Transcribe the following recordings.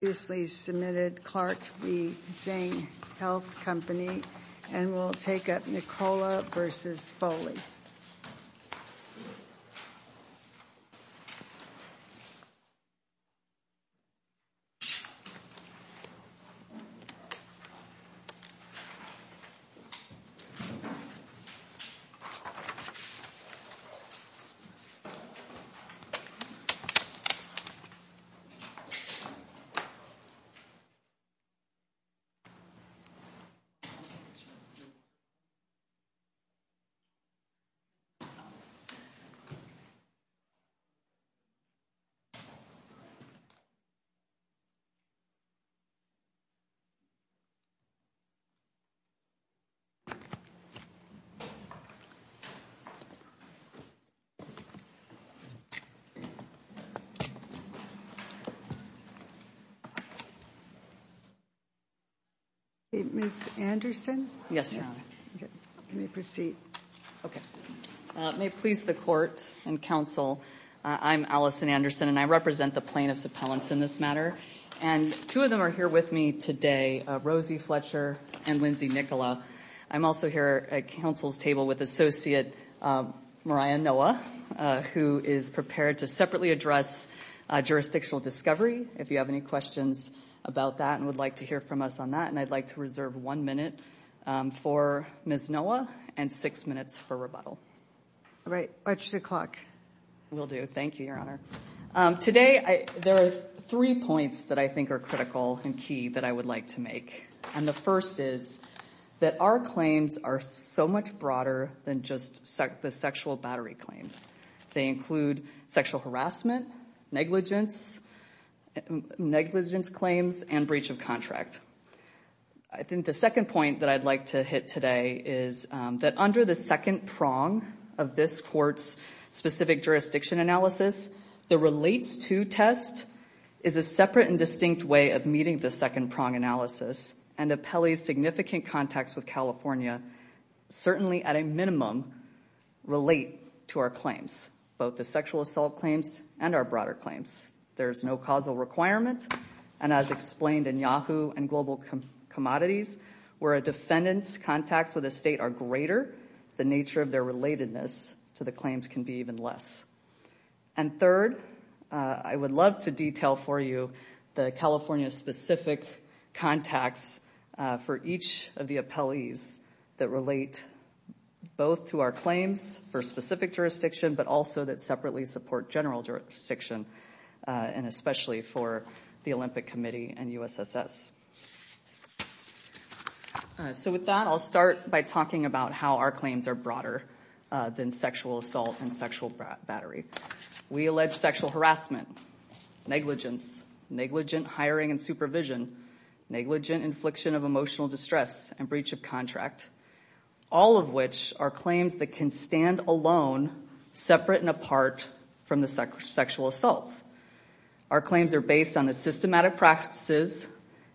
Submitted Clark the same health company and we'll take up Nicola versus Foley Submitted Clark the same health company and we'll take up Nicola versus Foley Ms. Anderson. Yes. Okay. May it please the Court and Counsel I'm Alison Anderson and I represent the plaintiffs appellants in this matter and two of them are here with me today Rosie Fletcher and Lindsay Nicola I'm also here at Counsel's table with Associate Mariah Noah who is prepared to separated address jurisdictional discovery if you have any questions about that and would like to hear from us on that and I'd like to reserve one minute for Ms. Noah and six minutes for rebuttal. All right. Watch the clock. We'll do. Thank you Your Honor. Today there are three points that I think are critical and key that I would like to make. And the first is that our claims are so much broader than just the sexual battery claims. They include sexual harassment, negligence, negligence claims and breach of contract. I think the second point that I'd like to hit today is that under the second prong of this court's specific jurisdiction analysis the relates to test is a separate and distinct way of meeting the second prong analysis and appellee's significant contacts with California certainly at a minimum relate to our claims. Both the sexual assault claims and the breach of contract are separate claims and are broader claims. There is no causal requirement and as explained in Yahoo and Global Commodities where a defendant's contacts with a state are greater the nature of their relatedness to the claims can be even less. And third I would love to detail for you the California specific contacts for each of the appellees that relate both to our claims for specific jurisdiction but also that separately support general jurisdiction and especially for the Olympic Committee and USSS. So with that I'll start by talking about how our claims are broader than sexual assault and sexual battery. We allege sexual harassment, negligence, negligent hiring and supervision, negligent infliction of emotional distress and breach of contract. All of which are claims that can stand alone separate and apart from the sexual assaults. Our claims are based on the systematic practices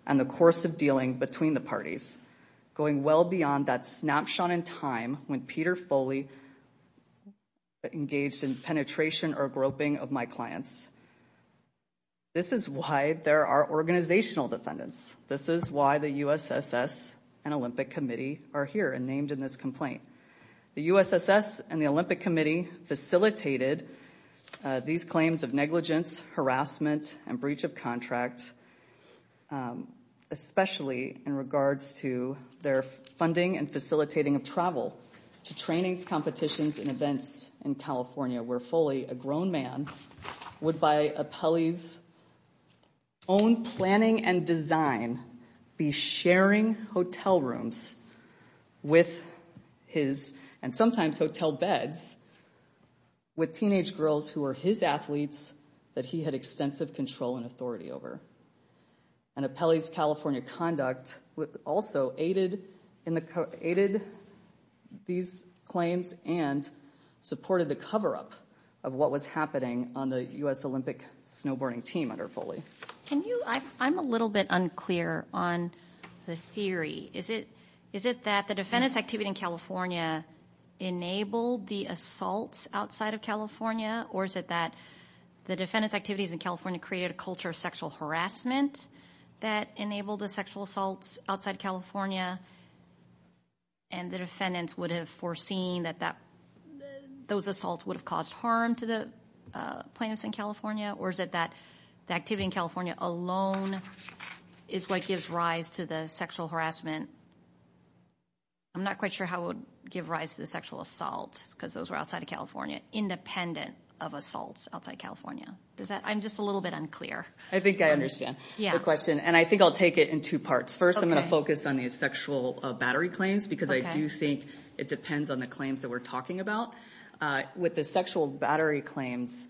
and the course of dealing between the parties. Going well beyond that snapshot in time when Peter Foley engaged in penetration or groping of my clients. This is why there are organizational defendants. This is why the USSS and Olympic Committee are here and named in this complaint. The claims of negligence, harassment and breach of contract especially in regards to their funding and facilitating of travel to trainings, competitions and events in California where Foley, a grown man, would by appellee's own planning and design be sharing hotel rooms with his and his girls who were his athletes that he had extensive control and authority over. An appellee's California conduct also aided these claims and supported the cover up of what was happening on the US Olympic snowboarding team under Foley. Can you, I'm a little bit unclear on the theory. Is it that the defendants activity in California enabled the assaults outside of California or is it that the defendants activities in California created a culture of sexual harassment that enabled the sexual assaults outside of California and the defendants would have foreseen that those assaults would have caused harm to the plaintiffs in California or is it that the activity in California alone is what gives rise to the sexual harassment? I'm not quite sure how it would give rise to the sexual assault because those were outside of California independent of assaults outside of California. I'm just a little bit unclear. I think I understand the question and I think I'll take it in two parts. First I'm going to focus on the sexual battery claims because I do think it depends on the claims that we're talking about. With the sexual battery claims,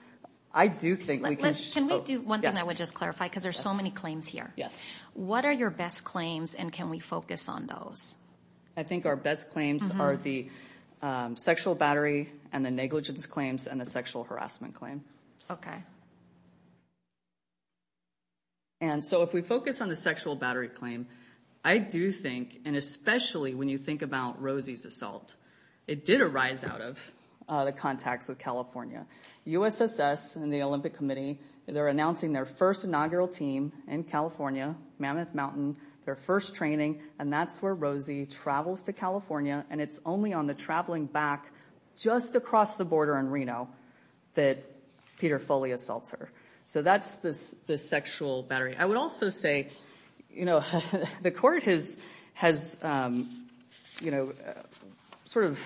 I do think we can... Can we do one thing that would just clarify because there's so many claims here. What are your best claims and can we focus on those? I think our best claims are the sexual battery and the negligence claims and the sexual harassment claim. And so if we focus on the sexual battery claim, I do think and especially when you think about Rosie's assault, it did arise out of the contacts with California. USSS and the Olympic Committee, they're announcing their first inaugural team in California, Mammoth Mountain, their first training and that's where Rosie travels to California and it's only on the traveling back just across the border in Reno that Peter Foley assaults her. So that's the sexual battery. I would also say, you know, the court has, you know, sort of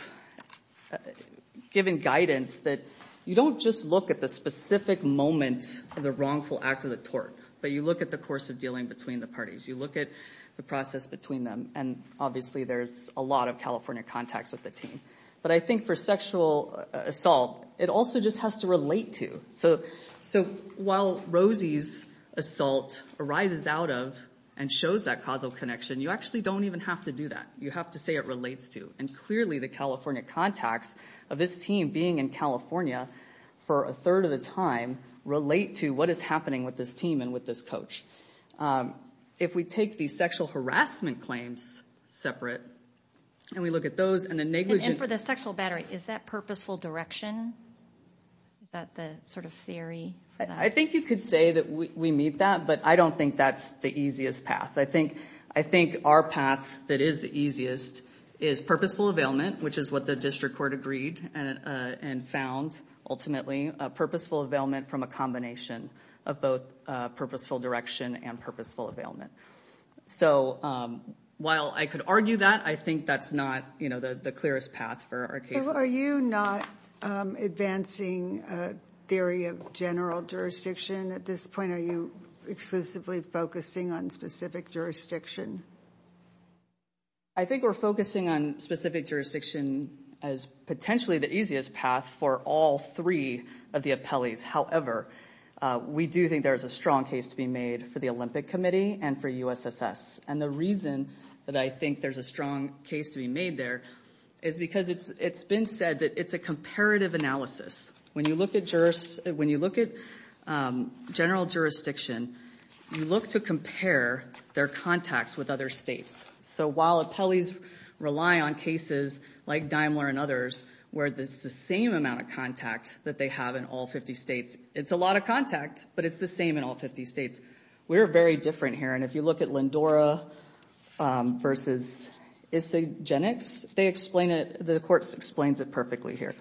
given guidance that you don't just look at the specific moment of the wrongful act of the court, but you look at the course of dealing between the parties. You look at the process between them and obviously there's a lot of California contacts with the team. But I think for sexual assault, it also just has to relate to. So while Rosie's assault arises out of and shows that causal connection, you actually don't even have to do that. You have to say it relates to. And clearly the California contacts of this team being in California for a third of the time relate to what is happening with this team and with this coach. So we take these sexual harassment claims separate and we look at those and the negligent... And for the sexual battery, is that purposeful direction? Is that the sort of theory? I think you could say that we meet that, but I don't think that's the easiest path. I think our path that is the easiest is purposeful availment, which is what the district court agreed and found ultimately. Purposeful availment from a combination of both purposeful direction and purposeful availment. So while I could argue that, I think that's not the clearest path for our case. Are you not advancing theory of general jurisdiction at this point? Are you exclusively focusing on specific jurisdiction? I think we're focusing on specific jurisdiction as potentially the easiest path for all three of the appellees. However, we do think there's a strong case to be made for the Olympic Committee and for USSS. And the reason that I think there's a strong case to be made there is because it's been said that it's a comparative analysis. When you look at general jurisdiction, you look to compare their contacts with other states. So while appellees rely on cases like Daimler and others where it's the same amount of contact that they have in all 50 states, it's a lot of contact, but it's the same in all 50 states. We're very different here. And if you look at Lindora versus Isagenix, they explain it, the court explains it perfectly here.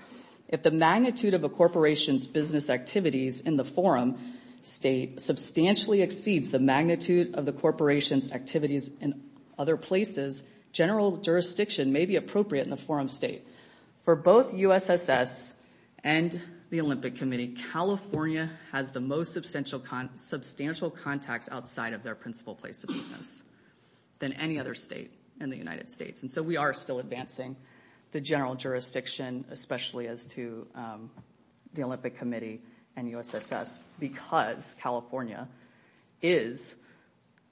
If the magnitude of a corporation's business activities in the forum state substantially exceeds the magnitude of the corporation's activities in other places, general jurisdiction may be appropriate in the forum state. For both USSS and the Olympic Committee, California has the most substantial contacts outside of their principal place of business than any other state in the United States. And so we are still advancing the general jurisdiction, especially as to the Olympic Committee and USSS, because California is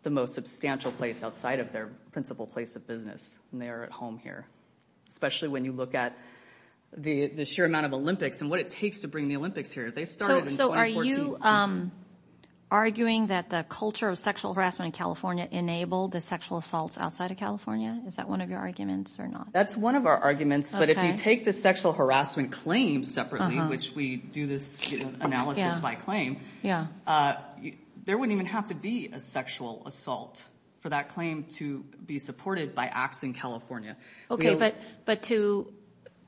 the most substantial place outside of their principal place of business. And they are at home here. Especially when you look at the sheer amount of Olympics and what it takes to bring the Olympics here. They started in 2014. So are you arguing that the culture of sexual harassment in California enabled the sexual assaults outside of California? Is that one of your arguments or not? That's one of our arguments. But if you take the sexual harassment claims separately, which we do this analysis by claim, there wouldn't even have to be a sexual assault for that claim to be supported by acts in California. But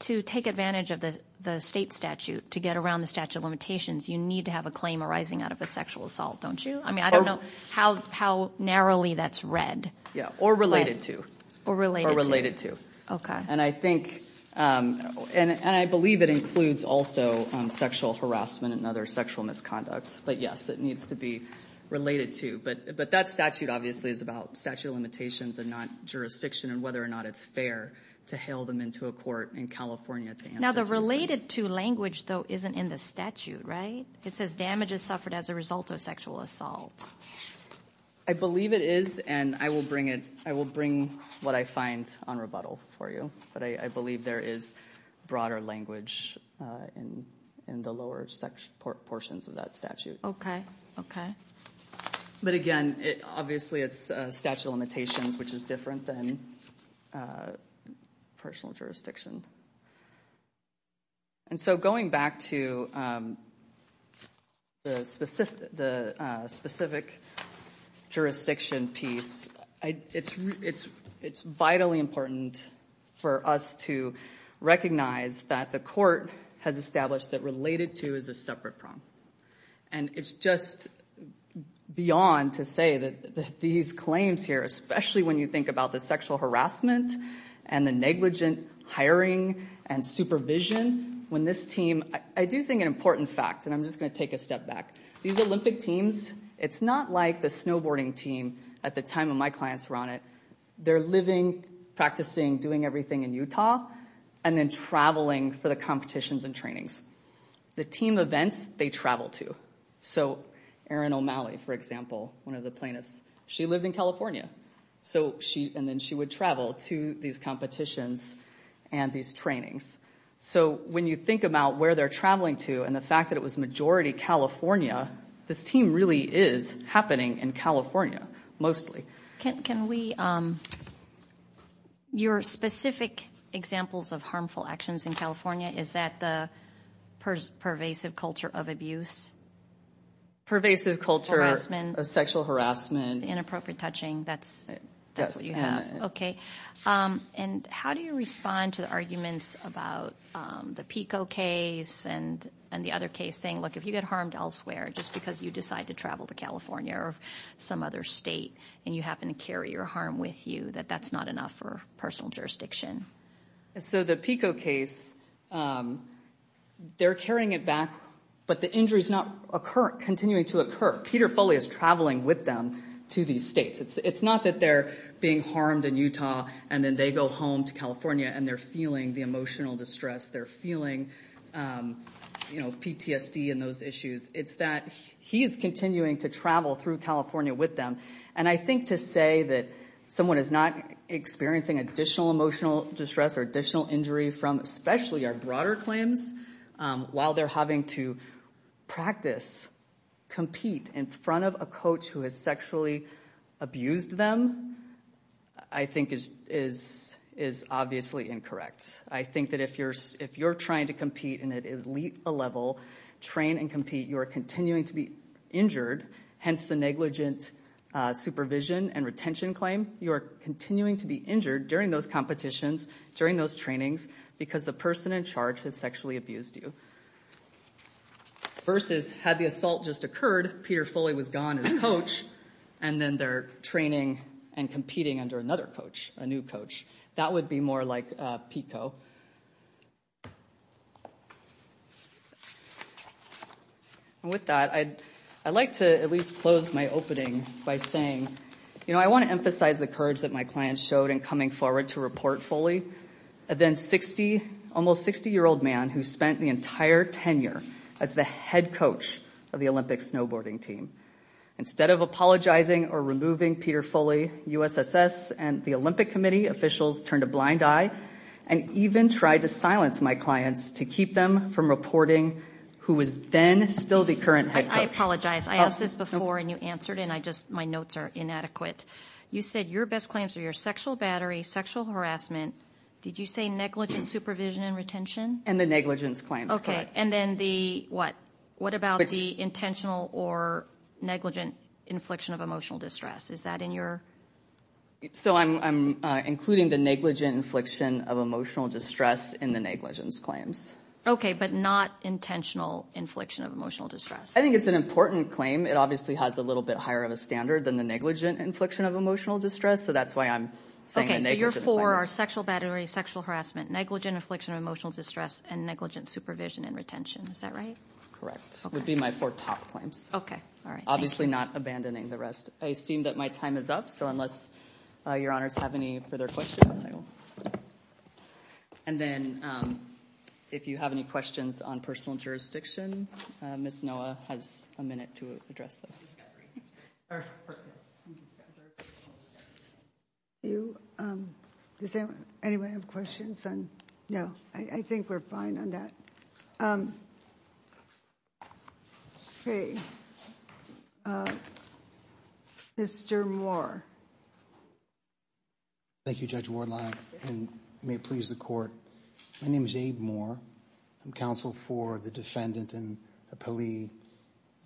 to take advantage of the state statute to get around the statute of limitations, you need to have a claim arising out of a sexual assault, don't you? I mean, I don't know how narrowly that's read. Or related to. Or related to. And I believe it includes also sexual harassment and other sexual misconduct. But yes, it needs to be related to. But that statute obviously is about statute of limitations and not jurisdiction and whether or not it's fair to hail them into a court in California. Now, the related to language, though, isn't in the statute, right? It says damage is suffered as a result of sexual assault. I believe it is. And I will bring it. I will bring what I find on rebuttal for you. But I believe there is broader language in the lower sections, portions of that statute. OK. OK. But again, obviously, it's statute of limitations, which is different than personal jurisdiction. And so going back to the specific jurisdiction piece, it's vitally important for us to recognize that the court has established that related to is a separate problem. And it's just beyond to say that these claims here, especially when you think about the sexual harassment and the negligent hiring and supervision, when this team, I do think an important fact, and I'm just going to take a step back. These Olympic teams, it's not like the snowboarding team at the time when my clients were on it. They're living, practicing, doing everything in Utah and then traveling for the competitions and trainings. The team events, they travel to. So Erin O'Malley, for example, one of the plaintiffs, she lived in California. And then she would travel to these competitions and these trainings. So when you think about where they're traveling to and the fact that it was majority California, this team really is happening in California, mostly. Can we... Your specific examples of harmful actions in California, is that the pervasive culture of abuse? Pervasive culture of sexual harassment. Inappropriate touching. That's what you have. And how do you respond to the arguments about the PICO case and the other case saying, look, if you get harmed elsewhere just because you decide to travel to California or some other state and you happen to carry your harm with you, that that's not enough for personal jurisdiction? So the PICO case, they're carrying it back, but the injury's not continuing to occur. Peter Foley is traveling with them to these states. It's not that they're being harmed in Utah and then they go home to California and they're feeling the emotional distress. They're feeling PTSD and those issues. It's that he is continuing to travel through California with them. And I think to say that someone is not experiencing additional emotional distress or additional injury from especially our broader claims while they're having to practice, compete in front of a coach who has sexually abused them, I think is obviously incorrect. I think that if you're trying to compete in an elite level, train and compete, you are continuing to be injured, hence the negligent supervision and retention claim. You are continuing to be injured during those competitions, during those trainings, because the person in charge sexually abused you. Versus, had the assault just occurred, Peter Foley was gone as a coach and then they're training and competing under another coach, a new coach. That would be more like PICO. And with that, I'd like to at least close my opening by saying, you know, I want to emphasize the courage that my clients showed in coming forward to report Foley. A then 60, almost 60 year old man who spent the entire tenure as the head coach of the Olympic snowboarding team. Instead of apologizing or removing Peter Foley, USSS and the Olympic Committee officials turned a blind eye and even tried to silence my clients to keep them from reporting who was then still the current head coach. I apologize, I asked this before and you answered and I just, my notes are inadequate. You said your best claims are your sexual battery, sexual harassment. Did you say negligent supervision and retention? And the negligence claims. Okay, and then the what? What about the intentional or negligent infliction of emotional distress? Is that in your? So I'm including the negligent infliction of emotional distress in the negligence claims. Okay, but not intentional infliction of emotional distress. I think it's an important claim. It obviously has a little bit higher of a standard than the negligent infliction of emotional distress. So your four are sexual battery, sexual harassment, negligent infliction of emotional distress, and negligent supervision and retention, is that right? Correct, would be my four top claims. Okay, all right, thank you. Obviously not abandoning the rest. I assume that my time is up, so unless your honors have any further questions. And then if you have any questions on personal jurisdiction, Ms. Noah has a minute to address this. Thank you. Does anyone have questions? No, I think we're fine on that. Okay, Mr. Moore. Thank you, Judge Wardlock, and may it please the court. My name is Abe Moore. I'm counsel for the defendant and appellee,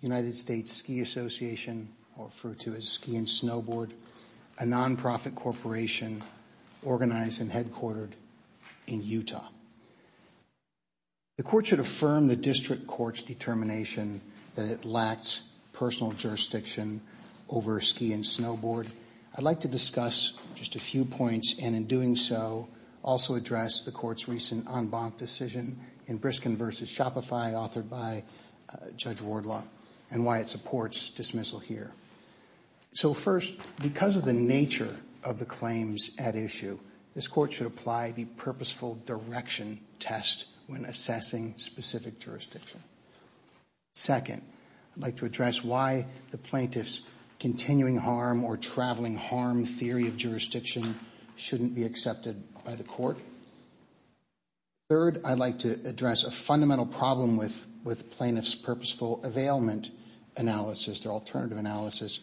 United States Ski Association, or referred to as Ski and Snowboard, a non-profit corporation organized and headquartered in Utah. The court should affirm the district court's determination that it lacks personal jurisdiction over ski and snowboard. I'd like to discuss just a few points, and in doing so, also address the court's recent en banc decision in Briskin v. Shopify, authored by Judge Wardlock, and why it supports dismissing this dismissal here. So first, because of the nature of the claims at issue, this court should apply the purposeful direction test when assessing specific jurisdiction. Second, I'd like to address why the plaintiff's continuing harm or traveling harm theory of jurisdiction shouldn't be accepted by the court. Third, I'd like to address a fundamental problem with plaintiff's purposeful availment analysis, their alternative analysis,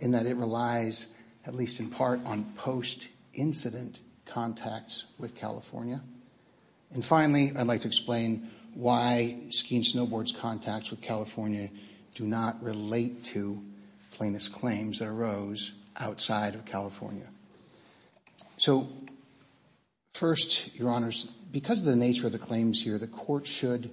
in that it relies, at least in part, on post-incident contacts with California. And finally, I'd like to explain why Ski and Snowboard's contacts with California do not relate to plaintiff's claims that arose outside of California. So first, Your Honors, because of the nature of the claims here, the court should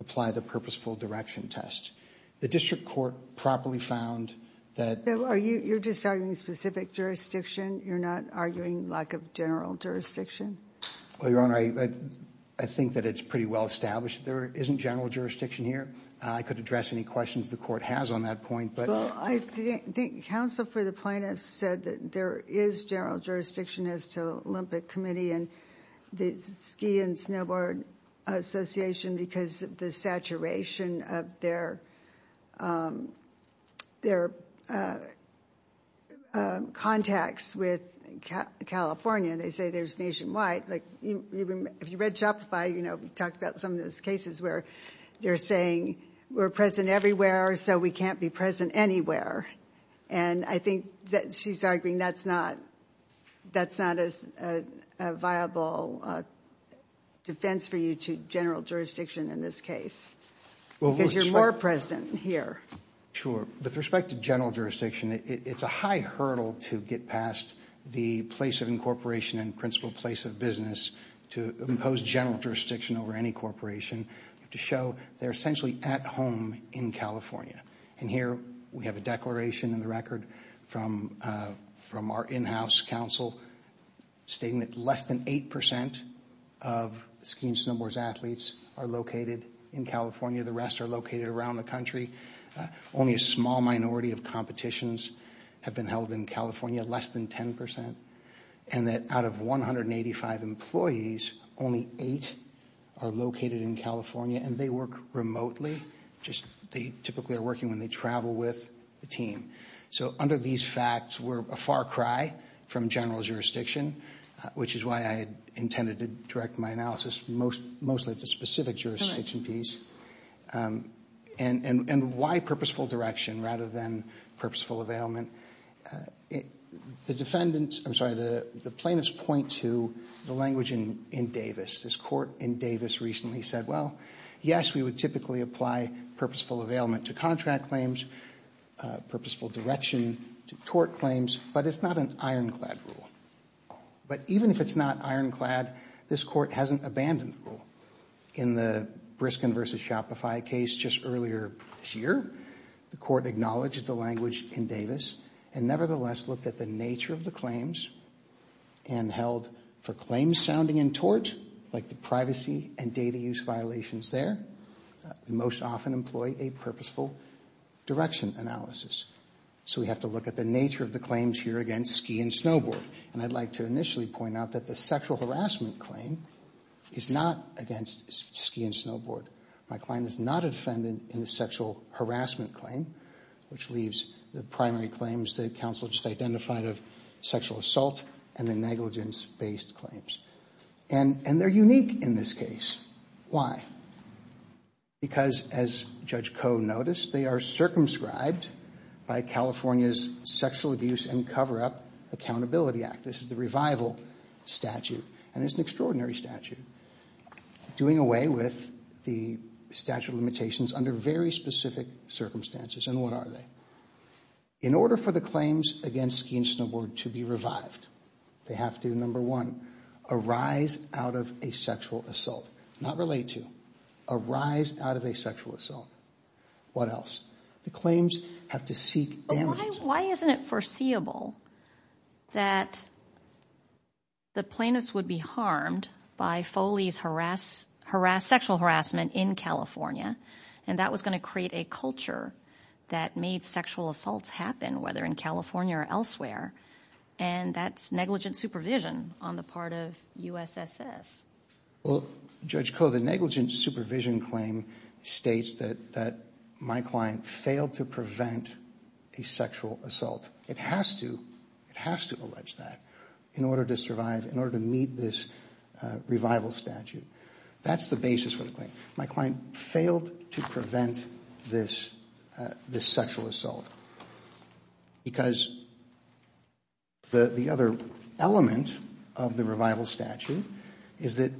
apply the purposeful direction test. The district court properly found that... So you're just arguing specific jurisdiction? You're not arguing lack of general jurisdiction? Well, Your Honor, I think that it's pretty well established that there isn't general jurisdiction here. I could address any questions the court has on that point, but... Well, I think counsel for the plaintiff said that there is general jurisdiction as to Olympic Committee and the Ski and Snowboard Association because of the saturation of their contacts with California. They say there's nationwide. If you read Shopify, we talked about some of those cases where they're saying, we're present everywhere, so we can't be present anywhere. And I think that she's arguing that's not a viable defense for you to go into general jurisdiction in this case because you're more present here. Sure. With respect to general jurisdiction, it's a high hurdle to get past the place of incorporation and principle place of business to impose general jurisdiction over any corporation to show they're essentially at home in California. And here, we have a declaration in the record from our in-house counsel stating that less than 8% of ski and snowboard athletes are located in California. The rest are located around the country. Only a small minority of competitions have been held in California, less than 10%. And that out of 185 employees, only 8 are located in California, and they work remotely. They typically are working when they travel with the team. So under these facts, we're a far cry from general jurisdiction, which is why I intended to direct my analysis mostly to specific jurisdictions. And why purposeful direction rather than purposeful availment? The defendants, I'm sorry, the plaintiffs point to the language in Davis. This court in Davis recently said, well, yes, we would typically apply purposeful availment to contract claims, purposeful direction to tort claims, but it's not an ironclad rule. But even if it's not ironclad, this court hasn't abandoned the rule. In the Briskin v. Shopify case just earlier this year, the court acknowledged the language in Davis and nevertheless looked at the nature of the claims and held for claims sounding in tort, like the privacy and data use violations there, most often employ a purposeful direction analysis. So we have to look at the nature of the claims here against ski and snowboard. And I should initially point out that the sexual harassment claim is not against ski and snowboard. My client is not a defendant in the sexual harassment claim, which leaves the primary claims that counsel just identified of sexual assault and the negligence-based claims. And they're unique in this case. Why? Because as Judge Koh noticed, they are circumscribed by California's Sexual Abuse and Cover-Up Accountability Act. This is the revival statute. And it's an extraordinary statute doing away with the statute of limitations under very specific circumstances. And what are they? In order for the claims against ski and snowboard to be revived, they have to, number one, arise out of a sexual assault. Not relate to. Arise out of a sexual assault. What else? The claims have to seek damages. It's understandable that the plaintiffs would be harmed by Foley's sexual harassment in California. And that was going to create a culture that made sexual assaults happen, whether in California or elsewhere. And that's negligent supervision on the part of USSS. Well, Judge Koh, the negligent supervision claim states that my client failed to prevent a sexual assault. It has to. It has to allege that in order to survive, in order to meet this revival statute. That's the basis for the claim. My client failed to prevent this sexual assault because the other element of the revival statute is that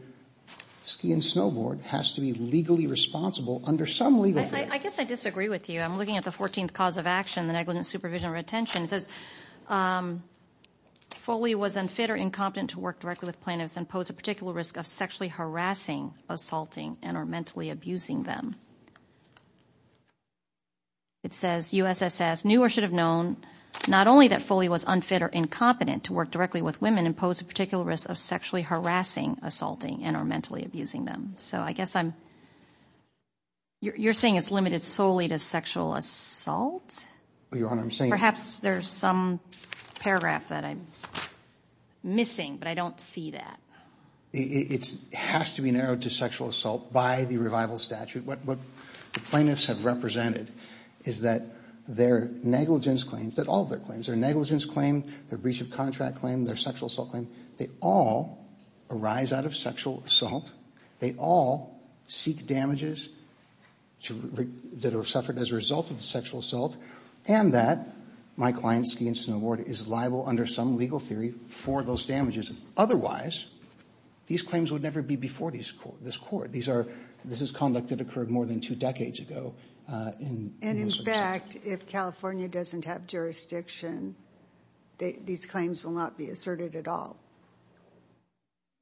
ski and snowboard has to be legally responsible under some legal framework. I guess I disagree with you. I'm looking at the 14th cause of action, the negligent supervision or retention. It says, Foley was unfit or incompetent to work directly with plaintiffs and pose a particular risk of sexually harassing, assaulting, and or mentally abusing them. It says, USSS knew or should have known not only that Foley was unfit or incompetent to work directly with women and pose a particular risk of sexually harassing, assaulting, and or mentally abusing them. So I guess I'm, you're saying it's limited solely to sexual assault? Your Honor, I'm saying. Perhaps there's some paragraph that I'm missing, but I don't see that. It has to be narrowed to sexual assault by the revival statute. What the plaintiffs have represented is that their negligence claims, that all of their claims, their negligence claim, their breach of contract claim, their sexual assault claim, they all arise out of sexual assault. They all seek damages that are suffered as a result of the sexual assault, and that my client, Ski and Snowboard, is liable under some legal theory for those damages. Otherwise, these claims would never be before this court. This is conduct that occurred more than two decades ago. And in fact, if California doesn't have jurisdiction, these claims will not be asserted at all.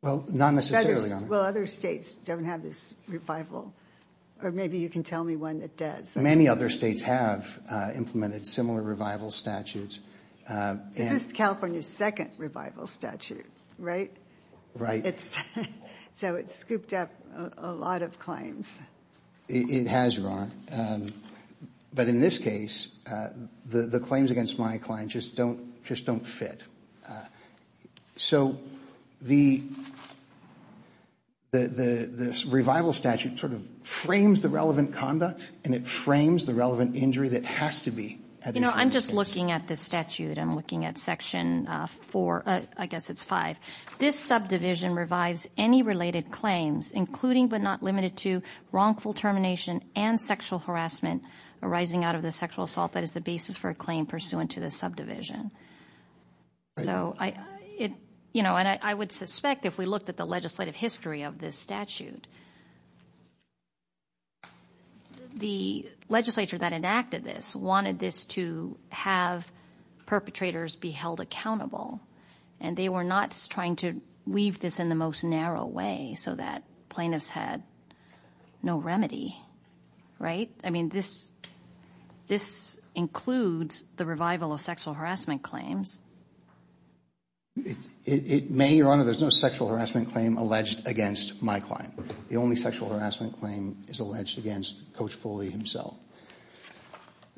Well, not necessarily, Your Honor. Well, other states don't have this revival. Or maybe you can tell me one that does. Many other states have implemented similar revival statutes. This is California's second revival statute, right? Right. So it's scooped up a lot of claims. It has, Your Honor. But in this case, the claims against my client just don't fit. So the revival statute sort of frames the relevant conduct, and it frames the relevant injury that has to be at least understood. You know, I'm just looking at this statute. I'm looking at Section 4, I guess it's 5. This subdivision revives any related claims, including but not limited to wrongful termination and sexual harassment arising out of the sexual assault. That is the basis for a claim pursuant to this subdivision. Right. You know, and I would suspect if we looked at the legislative history of this statute, the legislature that enacted this wanted this to have perpetrators be held accountable. And they were not trying to weave this in the most narrow way so that plaintiffs had no remedy, right? I mean, this includes the revival of sexual harassment claims. It may, Your Honor, there's no sexual harassment claim alleged against my client. The only sexual harassment claim is alleged against Coach Foley himself.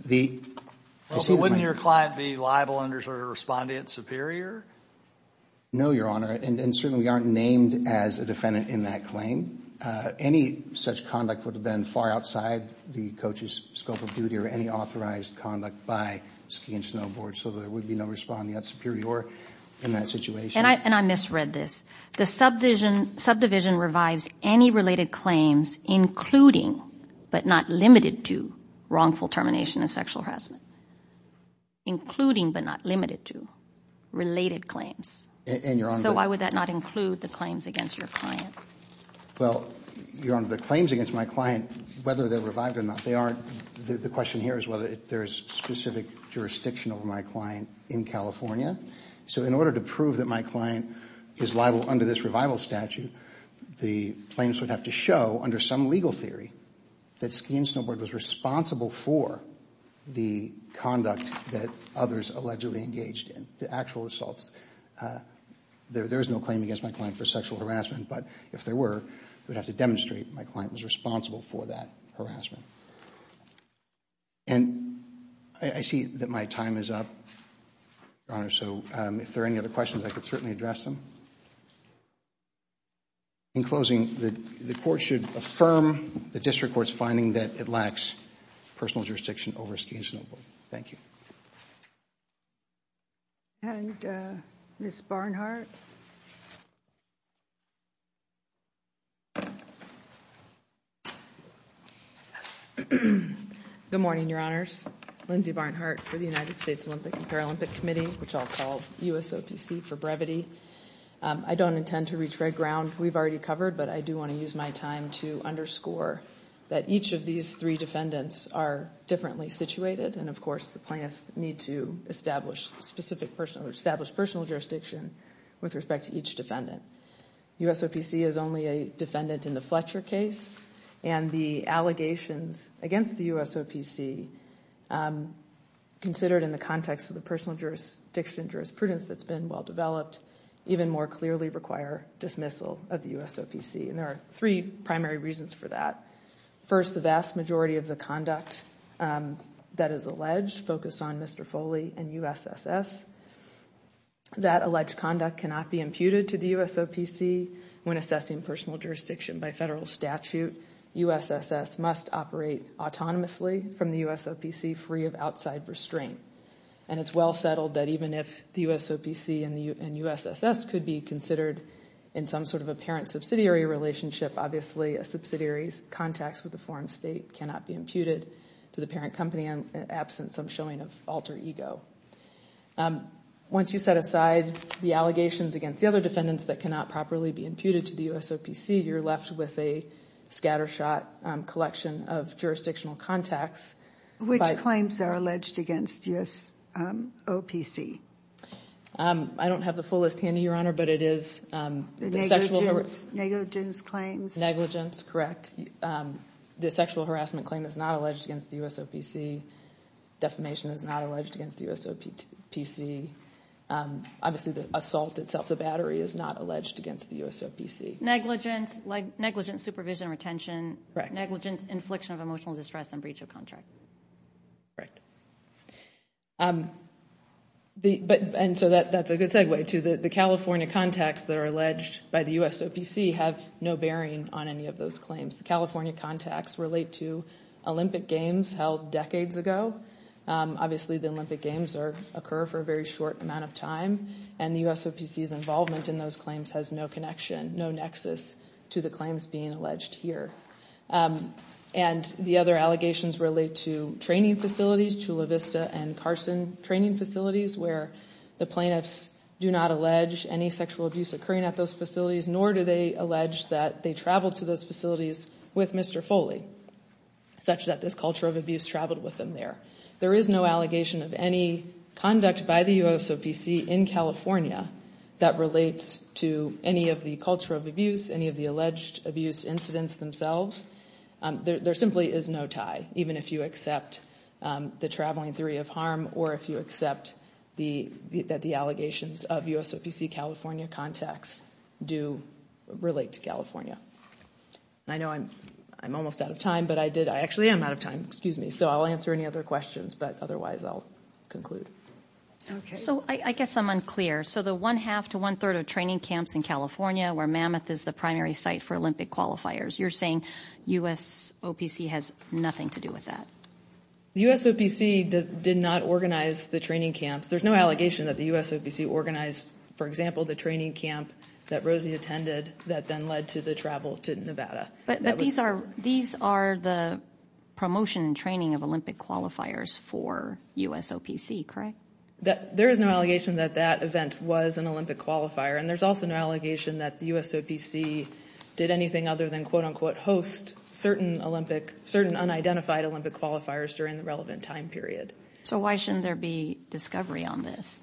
The... Well, wouldn't your client be liable under Respondent Superior? No, Your Honor. And certainly we aren't named as a defendant in that claim. Any such conduct would have been far outside the coach's scope of duty or any authorized conduct by Ski and Snowboard, so there would be no Respondent Superior in that situation. And I misread this. The subdivision revives any related claims including, but not limited to, wrongful termination of sexual harassment. Including, but not limited to, related claims. So why would that not include the claims against your client? Well, Your Honor, the claims against my client, whether they're revived or not, they aren't. The question here is whether there is specific jurisdiction over my client in California. So in order to prove that my client is liable under this revival statute, the claims would have to show, under some legal theory, that Ski and Snowboard was responsible for the conduct that others allegedly engaged in. The actual assaults. There is no claim against my client for sexual harassment, but if there were, we'd have to demonstrate my client was responsible for that harassment. And I see that my time is up, so if there are any other questions, I could certainly address them. In closing, the court should affirm the district court's finding that it lacks personal jurisdiction over Ski and Snowboard. Thank you. And Ms. Barnhart? Good morning, Your Honors. Lindsay Barnhart for the United States Olympic and Paralympic Committee, which I'll call USOPC for brevity. I don't intend to reach red ground. We've already covered, but I do want to use my time to underscore that each of these three defendants are differently situated, and of course, the plaintiffs need to establish specific personal, establish personal jurisdiction with respect to each defendant. USOPC is only a defendant in the Fletcher case, and the allegations against the USOPC considered in the context of the personal jurisdiction jurisprudence that's been well-developed even more clearly require dismissal of the USOPC, and there are three primary reasons for that. First, the vast majority of the conduct that is alleged focus on Mr. Foley and USSS. That alleged conduct cannot be imputed to the USOPC. When assessing personal jurisdiction by federal statute, USSS must operate autonomously from the USOPC free of outside restraint, and it's well settled that even if the USOPC and USSS could be considered in some sort of apparent subsidiary relationship, obviously, a subsidiary's contacts with the foreign state cannot be imputed to the parent company in absence of showing an alter ego. Once you set aside the allegations against the other defendants that cannot properly be imputed to the USOPC, you're left with a scattershot collection of jurisdictional contacts. Which claims are alleged against USOPC? I don't have the full list handy, but it is the sexual harassment claims. Negligence. Correct. The sexual harassment claim is not alleged against the USOPC. Defamation is not alleged against the USOPC. Obviously, the assault itself, the battery, is not alleged against the USOPC. Negligence, negligent supervision and retention. Correct. Negligent infliction of emotional distress and breach of contract. Correct. And so, that's a good segue to the California contacts that are alleged by the USOPC have no bearing on any of those claims. The California contacts relate to Olympic Games held decades ago. Obviously, the Olympic Games occur for a very short amount of time and the USOPC's involvement in those claims has no connection, no nexus to the claims being alleged here. And, the other allegations relate to training facilities, Chula Vista and Carson training facilities where the plaintiffs do not allege any sexual abuse occurring at those facilities nor do they allege that they traveled to those facilities with Mr. Foley such that this culture of abuse traveled with him there. There is no allegation of any conduct by the USOPC in California that relates to any of the culture of abuse, any of the alleged abuse incidents themselves. There simply is no tie even if you accept the traveling theory of harm or if you accept that the allegations of USOPC California contacts do relate to I know I'm almost out of time but I did, I actually am out of time, excuse me, so I'll answer any other questions but otherwise I'll conclude. So, I guess I'm unclear. So the one-half to one-third of training camps in California where Mammoth is the primary site for Olympic qualifiers, you're saying USOPC has nothing to do with that? The USOPC did not organize the training camps. There's no allegation that the USOPC organized, for example, the training camp that Rosie attended that then led to the travel to Nevada. But these are the promotion and training of Olympic qualifiers for USOPC, correct? There is no allegation that that event was an Olympic qualifier and there's also no allegation that the USOPC did anything other than quote-unquote host certain unidentified Olympic qualifiers during the relevant time period. So why shouldn't there be discovery on this? Why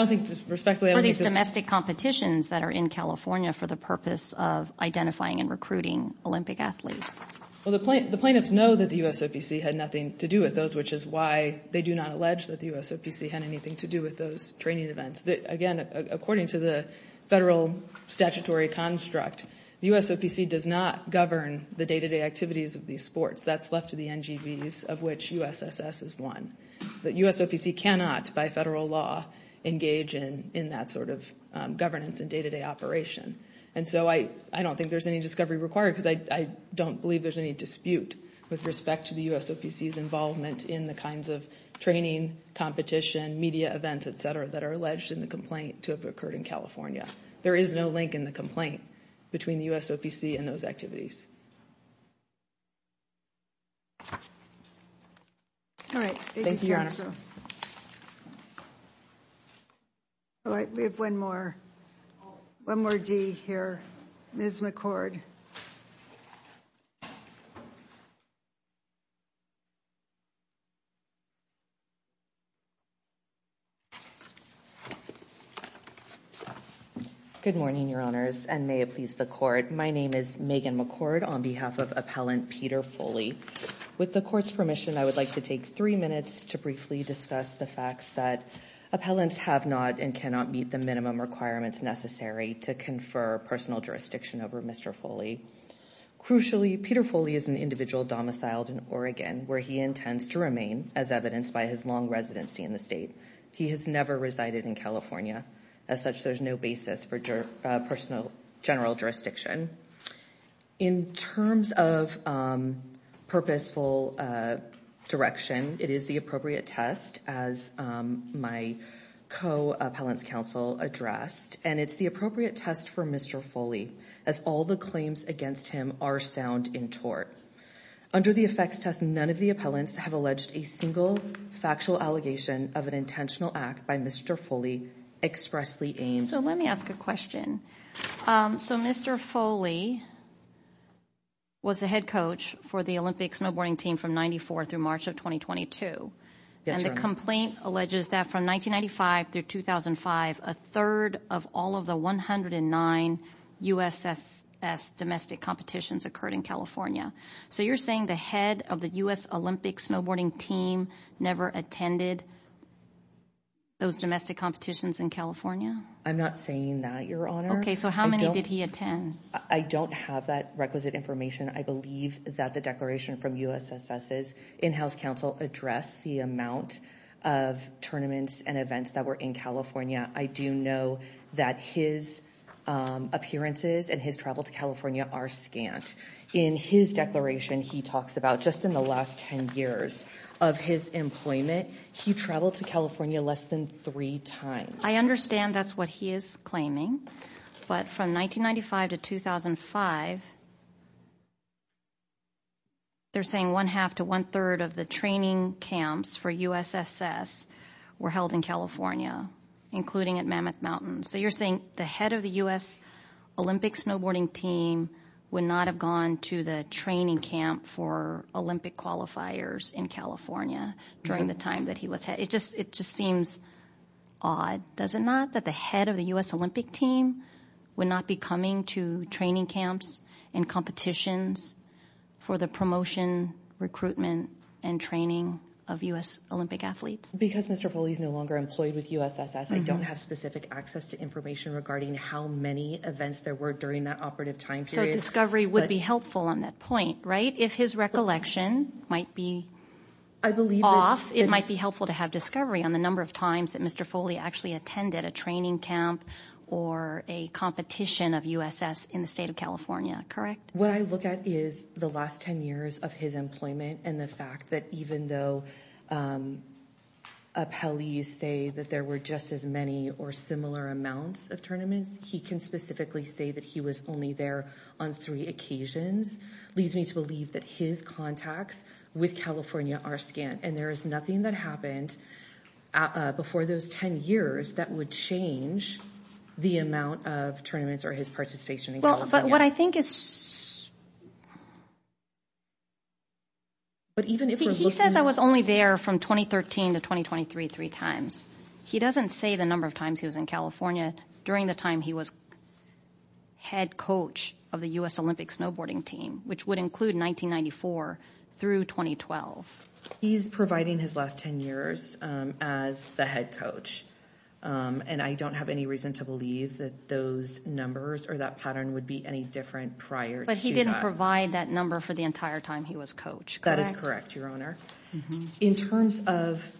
in California for these domestic competitions that are in California for the purpose of identifying and recruiting Olympic athletes? Well, the plaintiffs know that the USOPC had nothing to do with those which is why they do not allege that the USOPC had anything to do with those training events. Again, according to the federal statutory construct, the USOPC does not govern the day-to-day activities of these sports. That's left to the NGBs of which USSS is one. The USOPC cannot, by federal law, engage in that sort of governance and day-to-day operation. And so I don't think there's any discovery required because I don't believe there's any dispute with respect to the USOPC's involvement in the kinds of training, media events, et cetera, that are alleged in the complaint to have occurred in California. There is no link in the complaint between the USOPC and those activities. All right. Thank you, All right. We have one more. One more D here. Ms. McCord. Good morning, Honors, and may it please the Court. My name is Megan McCord on behalf of Appellant Peter Foley. With the Court's permission, I would like to take three minutes to briefly discuss the facts that appellants have not and cannot meet the minimum requirements necessary to confer personal jurisdiction over Mr. Foley. Peter Foley is an domiciled in where he intends to as evidenced by his long residency in the state. He has never resided in California. As such, there is no basis for personal general jurisdiction. In terms of purposeful direction, it is the appropriate test for Mr. as all the claims against him are sound in tort. Under the effects test, none of the appellants have alleged a single factual allegation of an intentional act by Mr. Foley expressly aimed at Let me ask a question. Mr. Foley was the head coach for the Olympic snowboarding team from March of 2022. The complaint alleges that from 1995 to 2005, a third of all of the 109 U.S. S. S. domestic competitions occurred in California. You are saying the head of the How many did he attend? I don't have that requisite information. I believe the U.S. S. S. S. in-house council addressed the amount of events that were in California. I do know that his appearances and his travel to California are scant. In his declaration he talks about just in the last 10 years of his employment, he traveled to California less than three times. I understand that's what he is saying. From 1995 to 2005, they are saying one half to one-third of the training camps for U.S. S. were held in You are saying the head of the U.S. Olympic snowboarding team would not have gone to the training camp for Olympic qualifiers in California during the time that he was head? It just seems odd that the head of the U.S. Olympic team would not be coming to training camps and competitions for the promotion, and training of U.S. Olympic snowboarders. the point. If his recollection might be off, it might be helpful to have discovery on the number of times that Mr. Foley attended a training camp or a competition of U.S. S. in the state of correct? What I look at is the last 10 years of his employment and the fact that even though appellees say that there were just as many or similar amounts of he can specifically say that he was only there on three occasions, leads me to believe that his contacts with California are scant. And there is nothing that happened before those 10 years that would change the amount of tournaments or his participation in He says I was only there from 2013 to 2023 three times. He doesn't say the number of times he was in California during the time he was head coach of the U.S. He is providing his last 10 years as the head coach. And I don't have any reason to believe that those numbers or that pattern would be any different prior to that. In terms of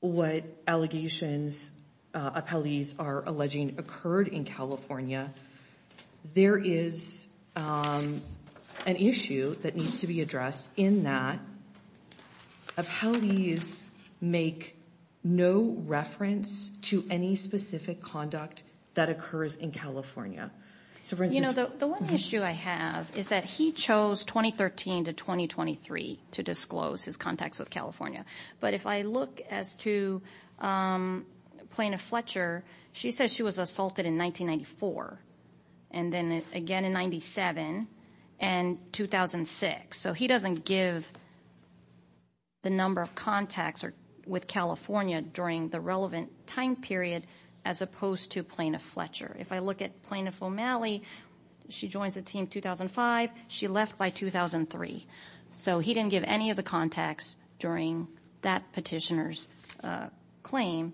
what allegations appellees are alleging occurred in California, there is an issue that needs to be addressed in that. Appellees make no reference to any specific conduct that occurs in California. The one issue I have is that he chose 2013 to 2023 to disclose his contacts with But if I look as to plaintiff Fletcher, she says she was assaulted in 1994. And then again in 97 and 2006. So he doesn't give the number of contacts with California during the relevant time period as opposed to plaintiff Fletcher. If I look at plaintiff O'Malley, she left by 2003. So he didn't give any of the contacts during that petitioner's claim.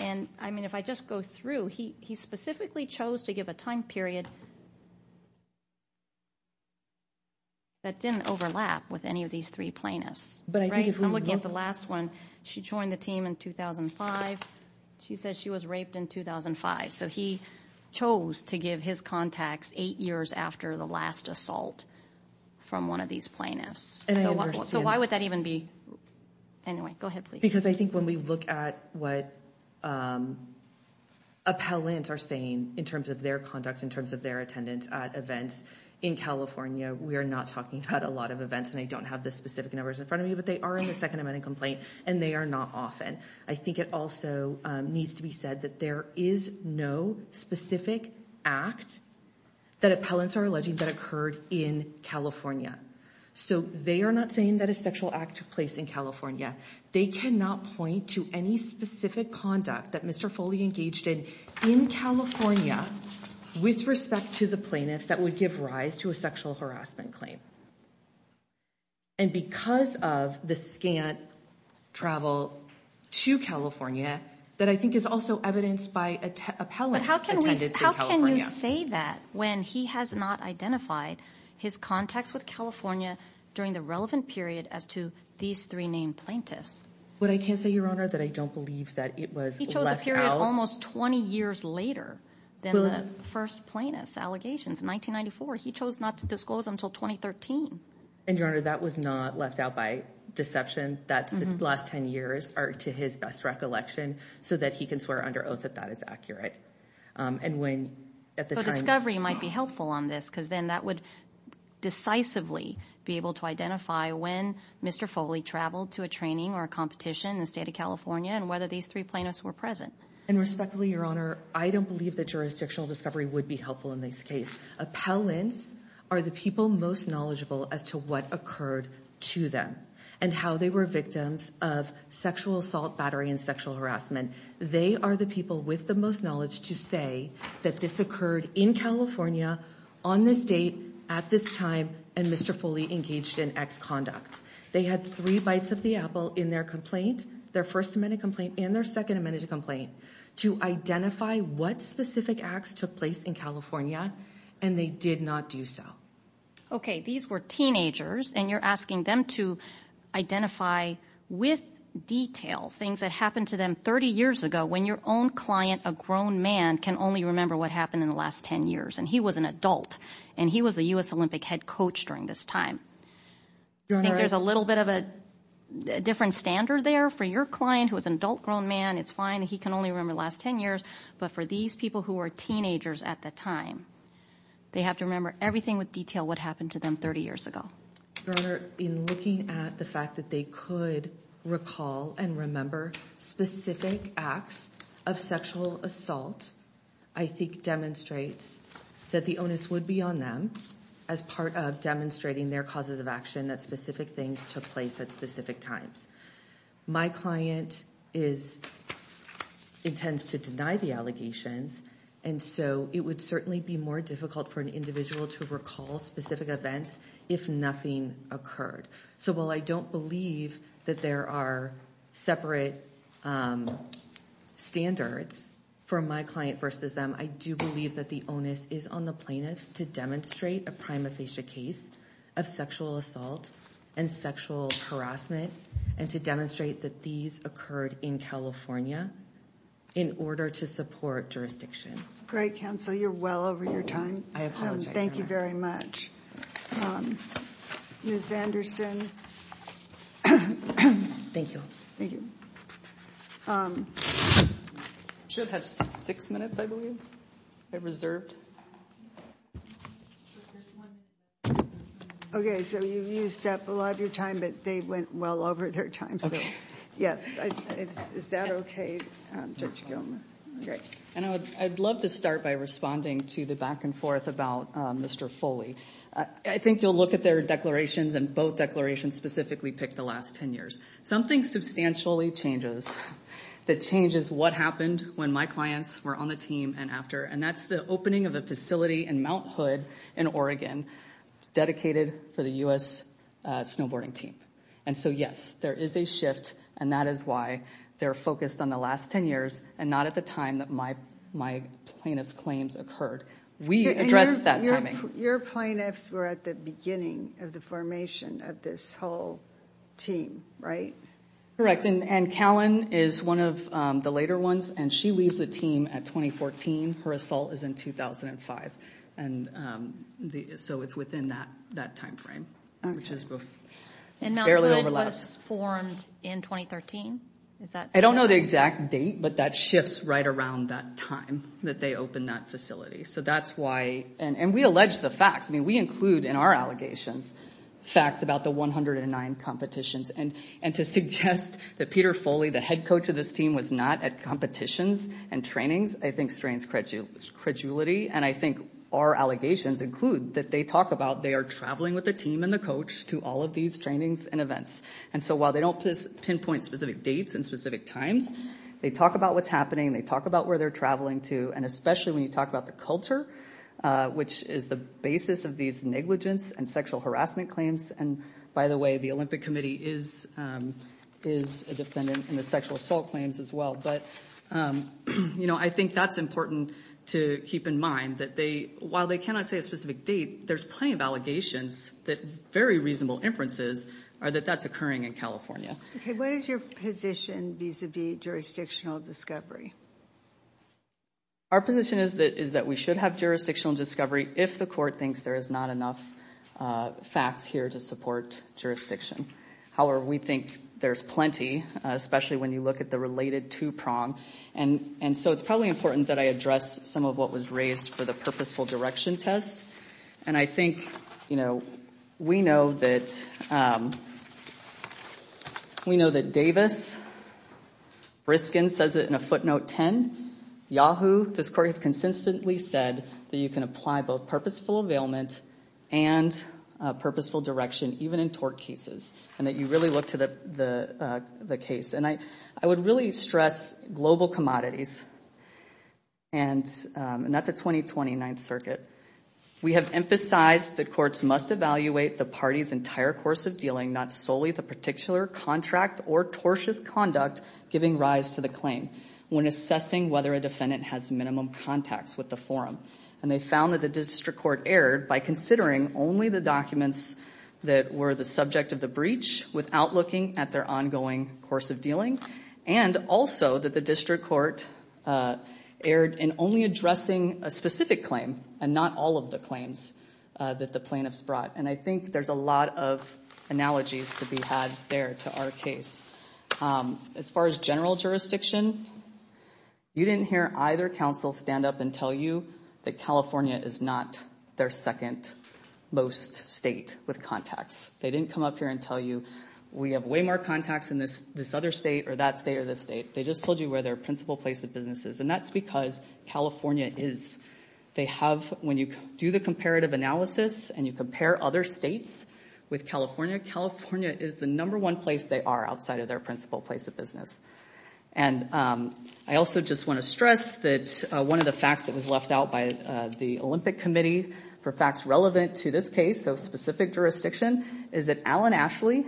And if I just go through, he specifically chose to give his contacts eight years after the last assault from one of these plaintiffs. So why would that even be anyway? Go ahead, please. think when we look at what appellants are saying in terms of their conduct, in terms of their attendance at events in California, we are not talking about a lot of events and they don't have the specific numbers in front of me, but they are in the second amendment complaint and they are not often. I think it also needs to be said that there is no specific act that appellants are alleging that occurred in California. So they are not saying that a sexual act took place in California. They cannot point to any specific conduct that Mr. Foley engaged in in California with respect to the plaintiffs that would give rise to a sexual harassment claim. And because of the scant travel to California, that I think is also evidenced by appellants attending to But how say that when he has not identified his contacts with California during the relevant period as to these three named plaintiffs? What I can't say Your Honor, that I don't believe that it was left He chose a period almost 20 years later than the first plaintiff's In 1994, he chose not to until 2013. And Your that was not left out by deception. The last 10 years are to his best recollection so that he can swear under oath that that is accurate. But discovery might be helpful on this case. I don't believe that jurisdiction discovery would be helpful in this case. Appellants are the people most knowledgeable as to what occurred to them and how they were victims of sexual assault, battery, and sexual harassment. They are the people with the most knowledge to say that this occurred in California on this date, at this time, and Mr. Foley engaged in exconduct. They had three bites of the in their complaint, their first amendment complaint, and their second amendment complaint to identify what specific acts took place in California, and they did not do so. Okay. These were teenagers, and you're asking them to identify with detail things that happened to them 30 years ago when your own client, a grown man, can only remember what happened in the last 10 years, but for these people who were teenagers at the time, they have to remember everything with detail what happened to them 30 years ago. Your Honor, in looking at the fact that they could recall and specific acts of sexual assault, I think demonstrates that the onus would be on them as part of demonstrating their causes of action that specific things took place at specific times. My client intends to deny the allegations, and so it would certainly be more difficult for an individual to recall specific events if nothing occurred. So while I don't believe that there are separate standards for my client versus them, I do believe that the onus is on the plaintiffs to demonstrate a prima facie case of sexual assault and sexual harassment and to that these occurred in California in order to support jurisdiction. counsel, you're well over your time. I apologize. Thank you very much. Ms. Anderson. Thank you. I should have six minutes, I believe. Okay. So you used up a lot of your time, but they went well over their time. Is that okay, Judge Gilman? I would love to start by responding to the back and forth about Mr. Foley. I think you will look at their declarations and both declarations specifically pick the last ten years. Something substantially changes, that changes what happened when my clients were on the team and after, and that's the opening of a facility in Mt. Hood in Oregon dedicated for the U.S. snowboarding team. And so, yes, there is a shift and that is why they're focused on the last ten years and not at the time that my plaintiff's occurred. We addressed that timing. Your plaintiffs were at the of the formation of this whole team, right? Correct. And Callan is one of the later ones and she leaves the team at 2014. Her assault is in 2005. So it's within that time frame. And Mt. Hood was formed in 2013? I don't know the exact date but that shifts right around that time that they opened that facility. And we allege the head coach was not at competitions and trainings. our allegations include that they are traveling with the team and the coach to all of these trainings and events. So while they don't pinpoint specific dates and specific times, they talk about what's occurring in What is your position vis-a-vis jurisdictional discovery? I think it's to keep in mind that there's plenty of allegations that very reasonable inferences are that that's occurring in California. What is your position vis-a-vis jurisdictional discovery? Our position is that we should have jurisdictional discovery if the court thinks there is not enough facts here to support jurisdiction. However, we think there's plenty, especially when you look at the related two-prong. And so it's probably important that I address some of what was mentioned 10, Yahoo, this court has consistently said that you can apply both purposeful availment and purposeful direction, even in tort cases, and that you really look to the case. And I would really stress global commodities, and that's a 2029th We have been whether a defendant has minimum contacts with the forum, and they found that the district court erred by considering only the documents that were the subject of the breach without looking at their ongoing course of and also that the district court erred in only addressing a specific claim and not all of the claims that the plaintiffs brought. And I think there's a lot of analogies to be had there to our case. As far as general jurisdiction, you didn't hear either counsel stand up and tell you that California is not their second most state with contacts. They didn't come up here and tell you we have way more contacts in this other state or that state or this state. They just told you where their principal place of business is. And that's because California is they have when you do the analysis and you compare other states with California, California is the number one place they are outside of their principal place of And I also just want to stress that one of the facts that was left out by the Olympic Committee for facts relevant to this case, so specific jurisdiction, is that Alan Ashley,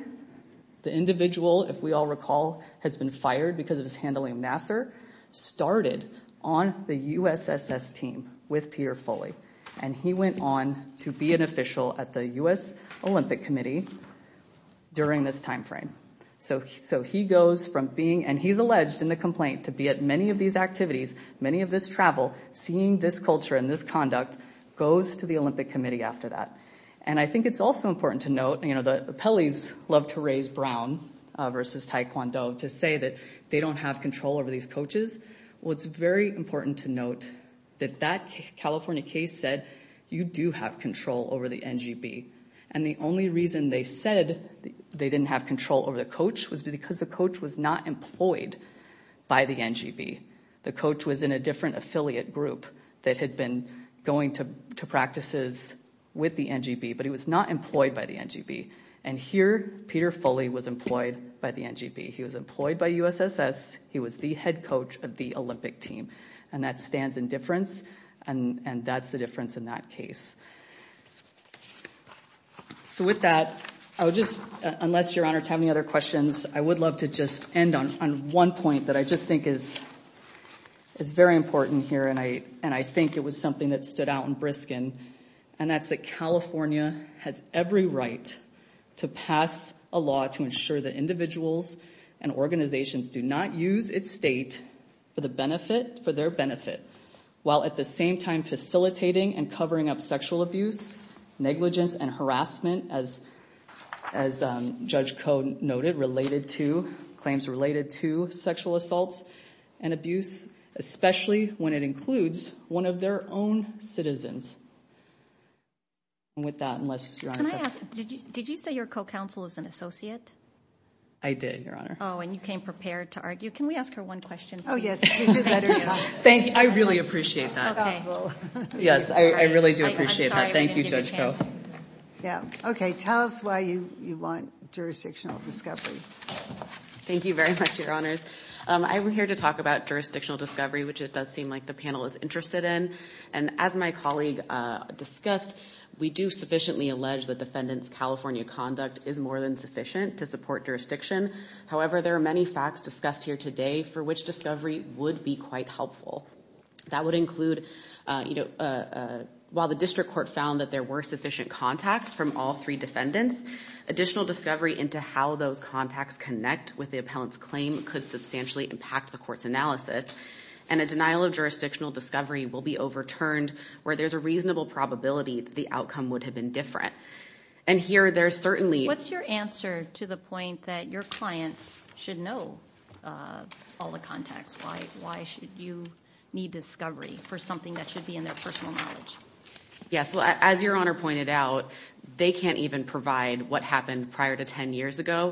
the individual, if we all recall, has been fired because of his handling of Nassar, started on the USSS team with Peter Foley. And he went on to be an official at the U.S. Olympic Committee during this time frame. So he goes from being, and he's alleged in the complaint to be at many of these activities, many of this travel, seeing this culture and this conduct, goes to the Committee after that. And I think it's also important to note that appellees love to raise Brown versus Taekwondo to say they don't have control over these It's very important to note that that California case said you do have control over the And the only reason they said they didn't have control over the was because employed by the NGB. And here Peter Foley was employed by the NGB. He was employed by USSS. He was the head coach of the Olympic team. And that stands in difference. And that's the difference in that case. So with that, I would just, unless I'm very important here and I think it was something that stood out in Briskin and that's that has every right to pass a law to ensure that and organizations do not use its state for the benefit for their benefit while at the same time facilitating and covering up sexual abuse, negligence and harassment as Judge Code noted related to claims related to sexual assaults and abuse especially when it includes one of the most I'm here to talk about jurisdictional discovery which it does seem like the panel is interested in. As my colleague discussed, we do have For which discovery would be quite helpful. That would include while the district court found there were sufficient contacts from all three defendants, additional discovery could substantially impact the court's and a denial of jurisdictional discovery will be overturned where there's a reasonable probability that the would have been different. What's your answer to the point that your clients should know all the contacts? Why should you need to know all the contacts? I think it's that the case is not case of a case of a case of case of a case of a case of even there being the VR moment. looks court will of the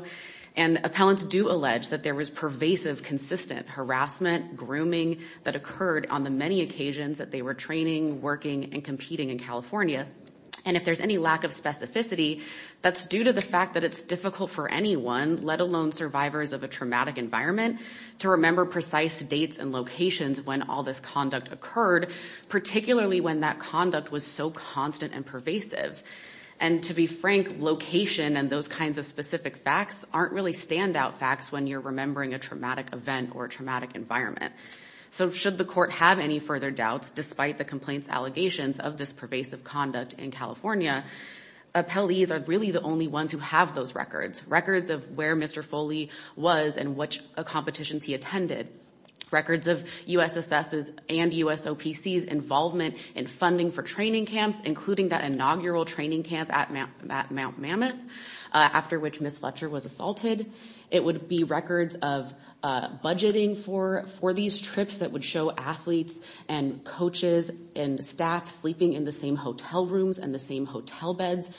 for the trips it athletes and coaches and staff sleeping in hotel rooms and hotel beds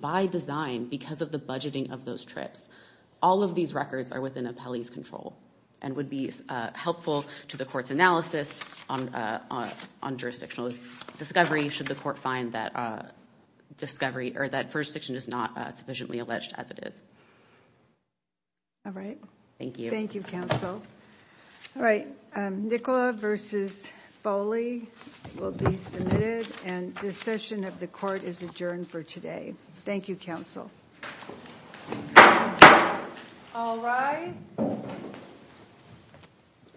by design because of the trips. These records would be helpful to the court's on jurisdictional discovery should the court find that jurisdiction is not sufficiently alleged as it is. Thank you counsel. Nicola versus Foley will be submitted and the session of the court is adjourned for today. Thank you counsel. I'll rise.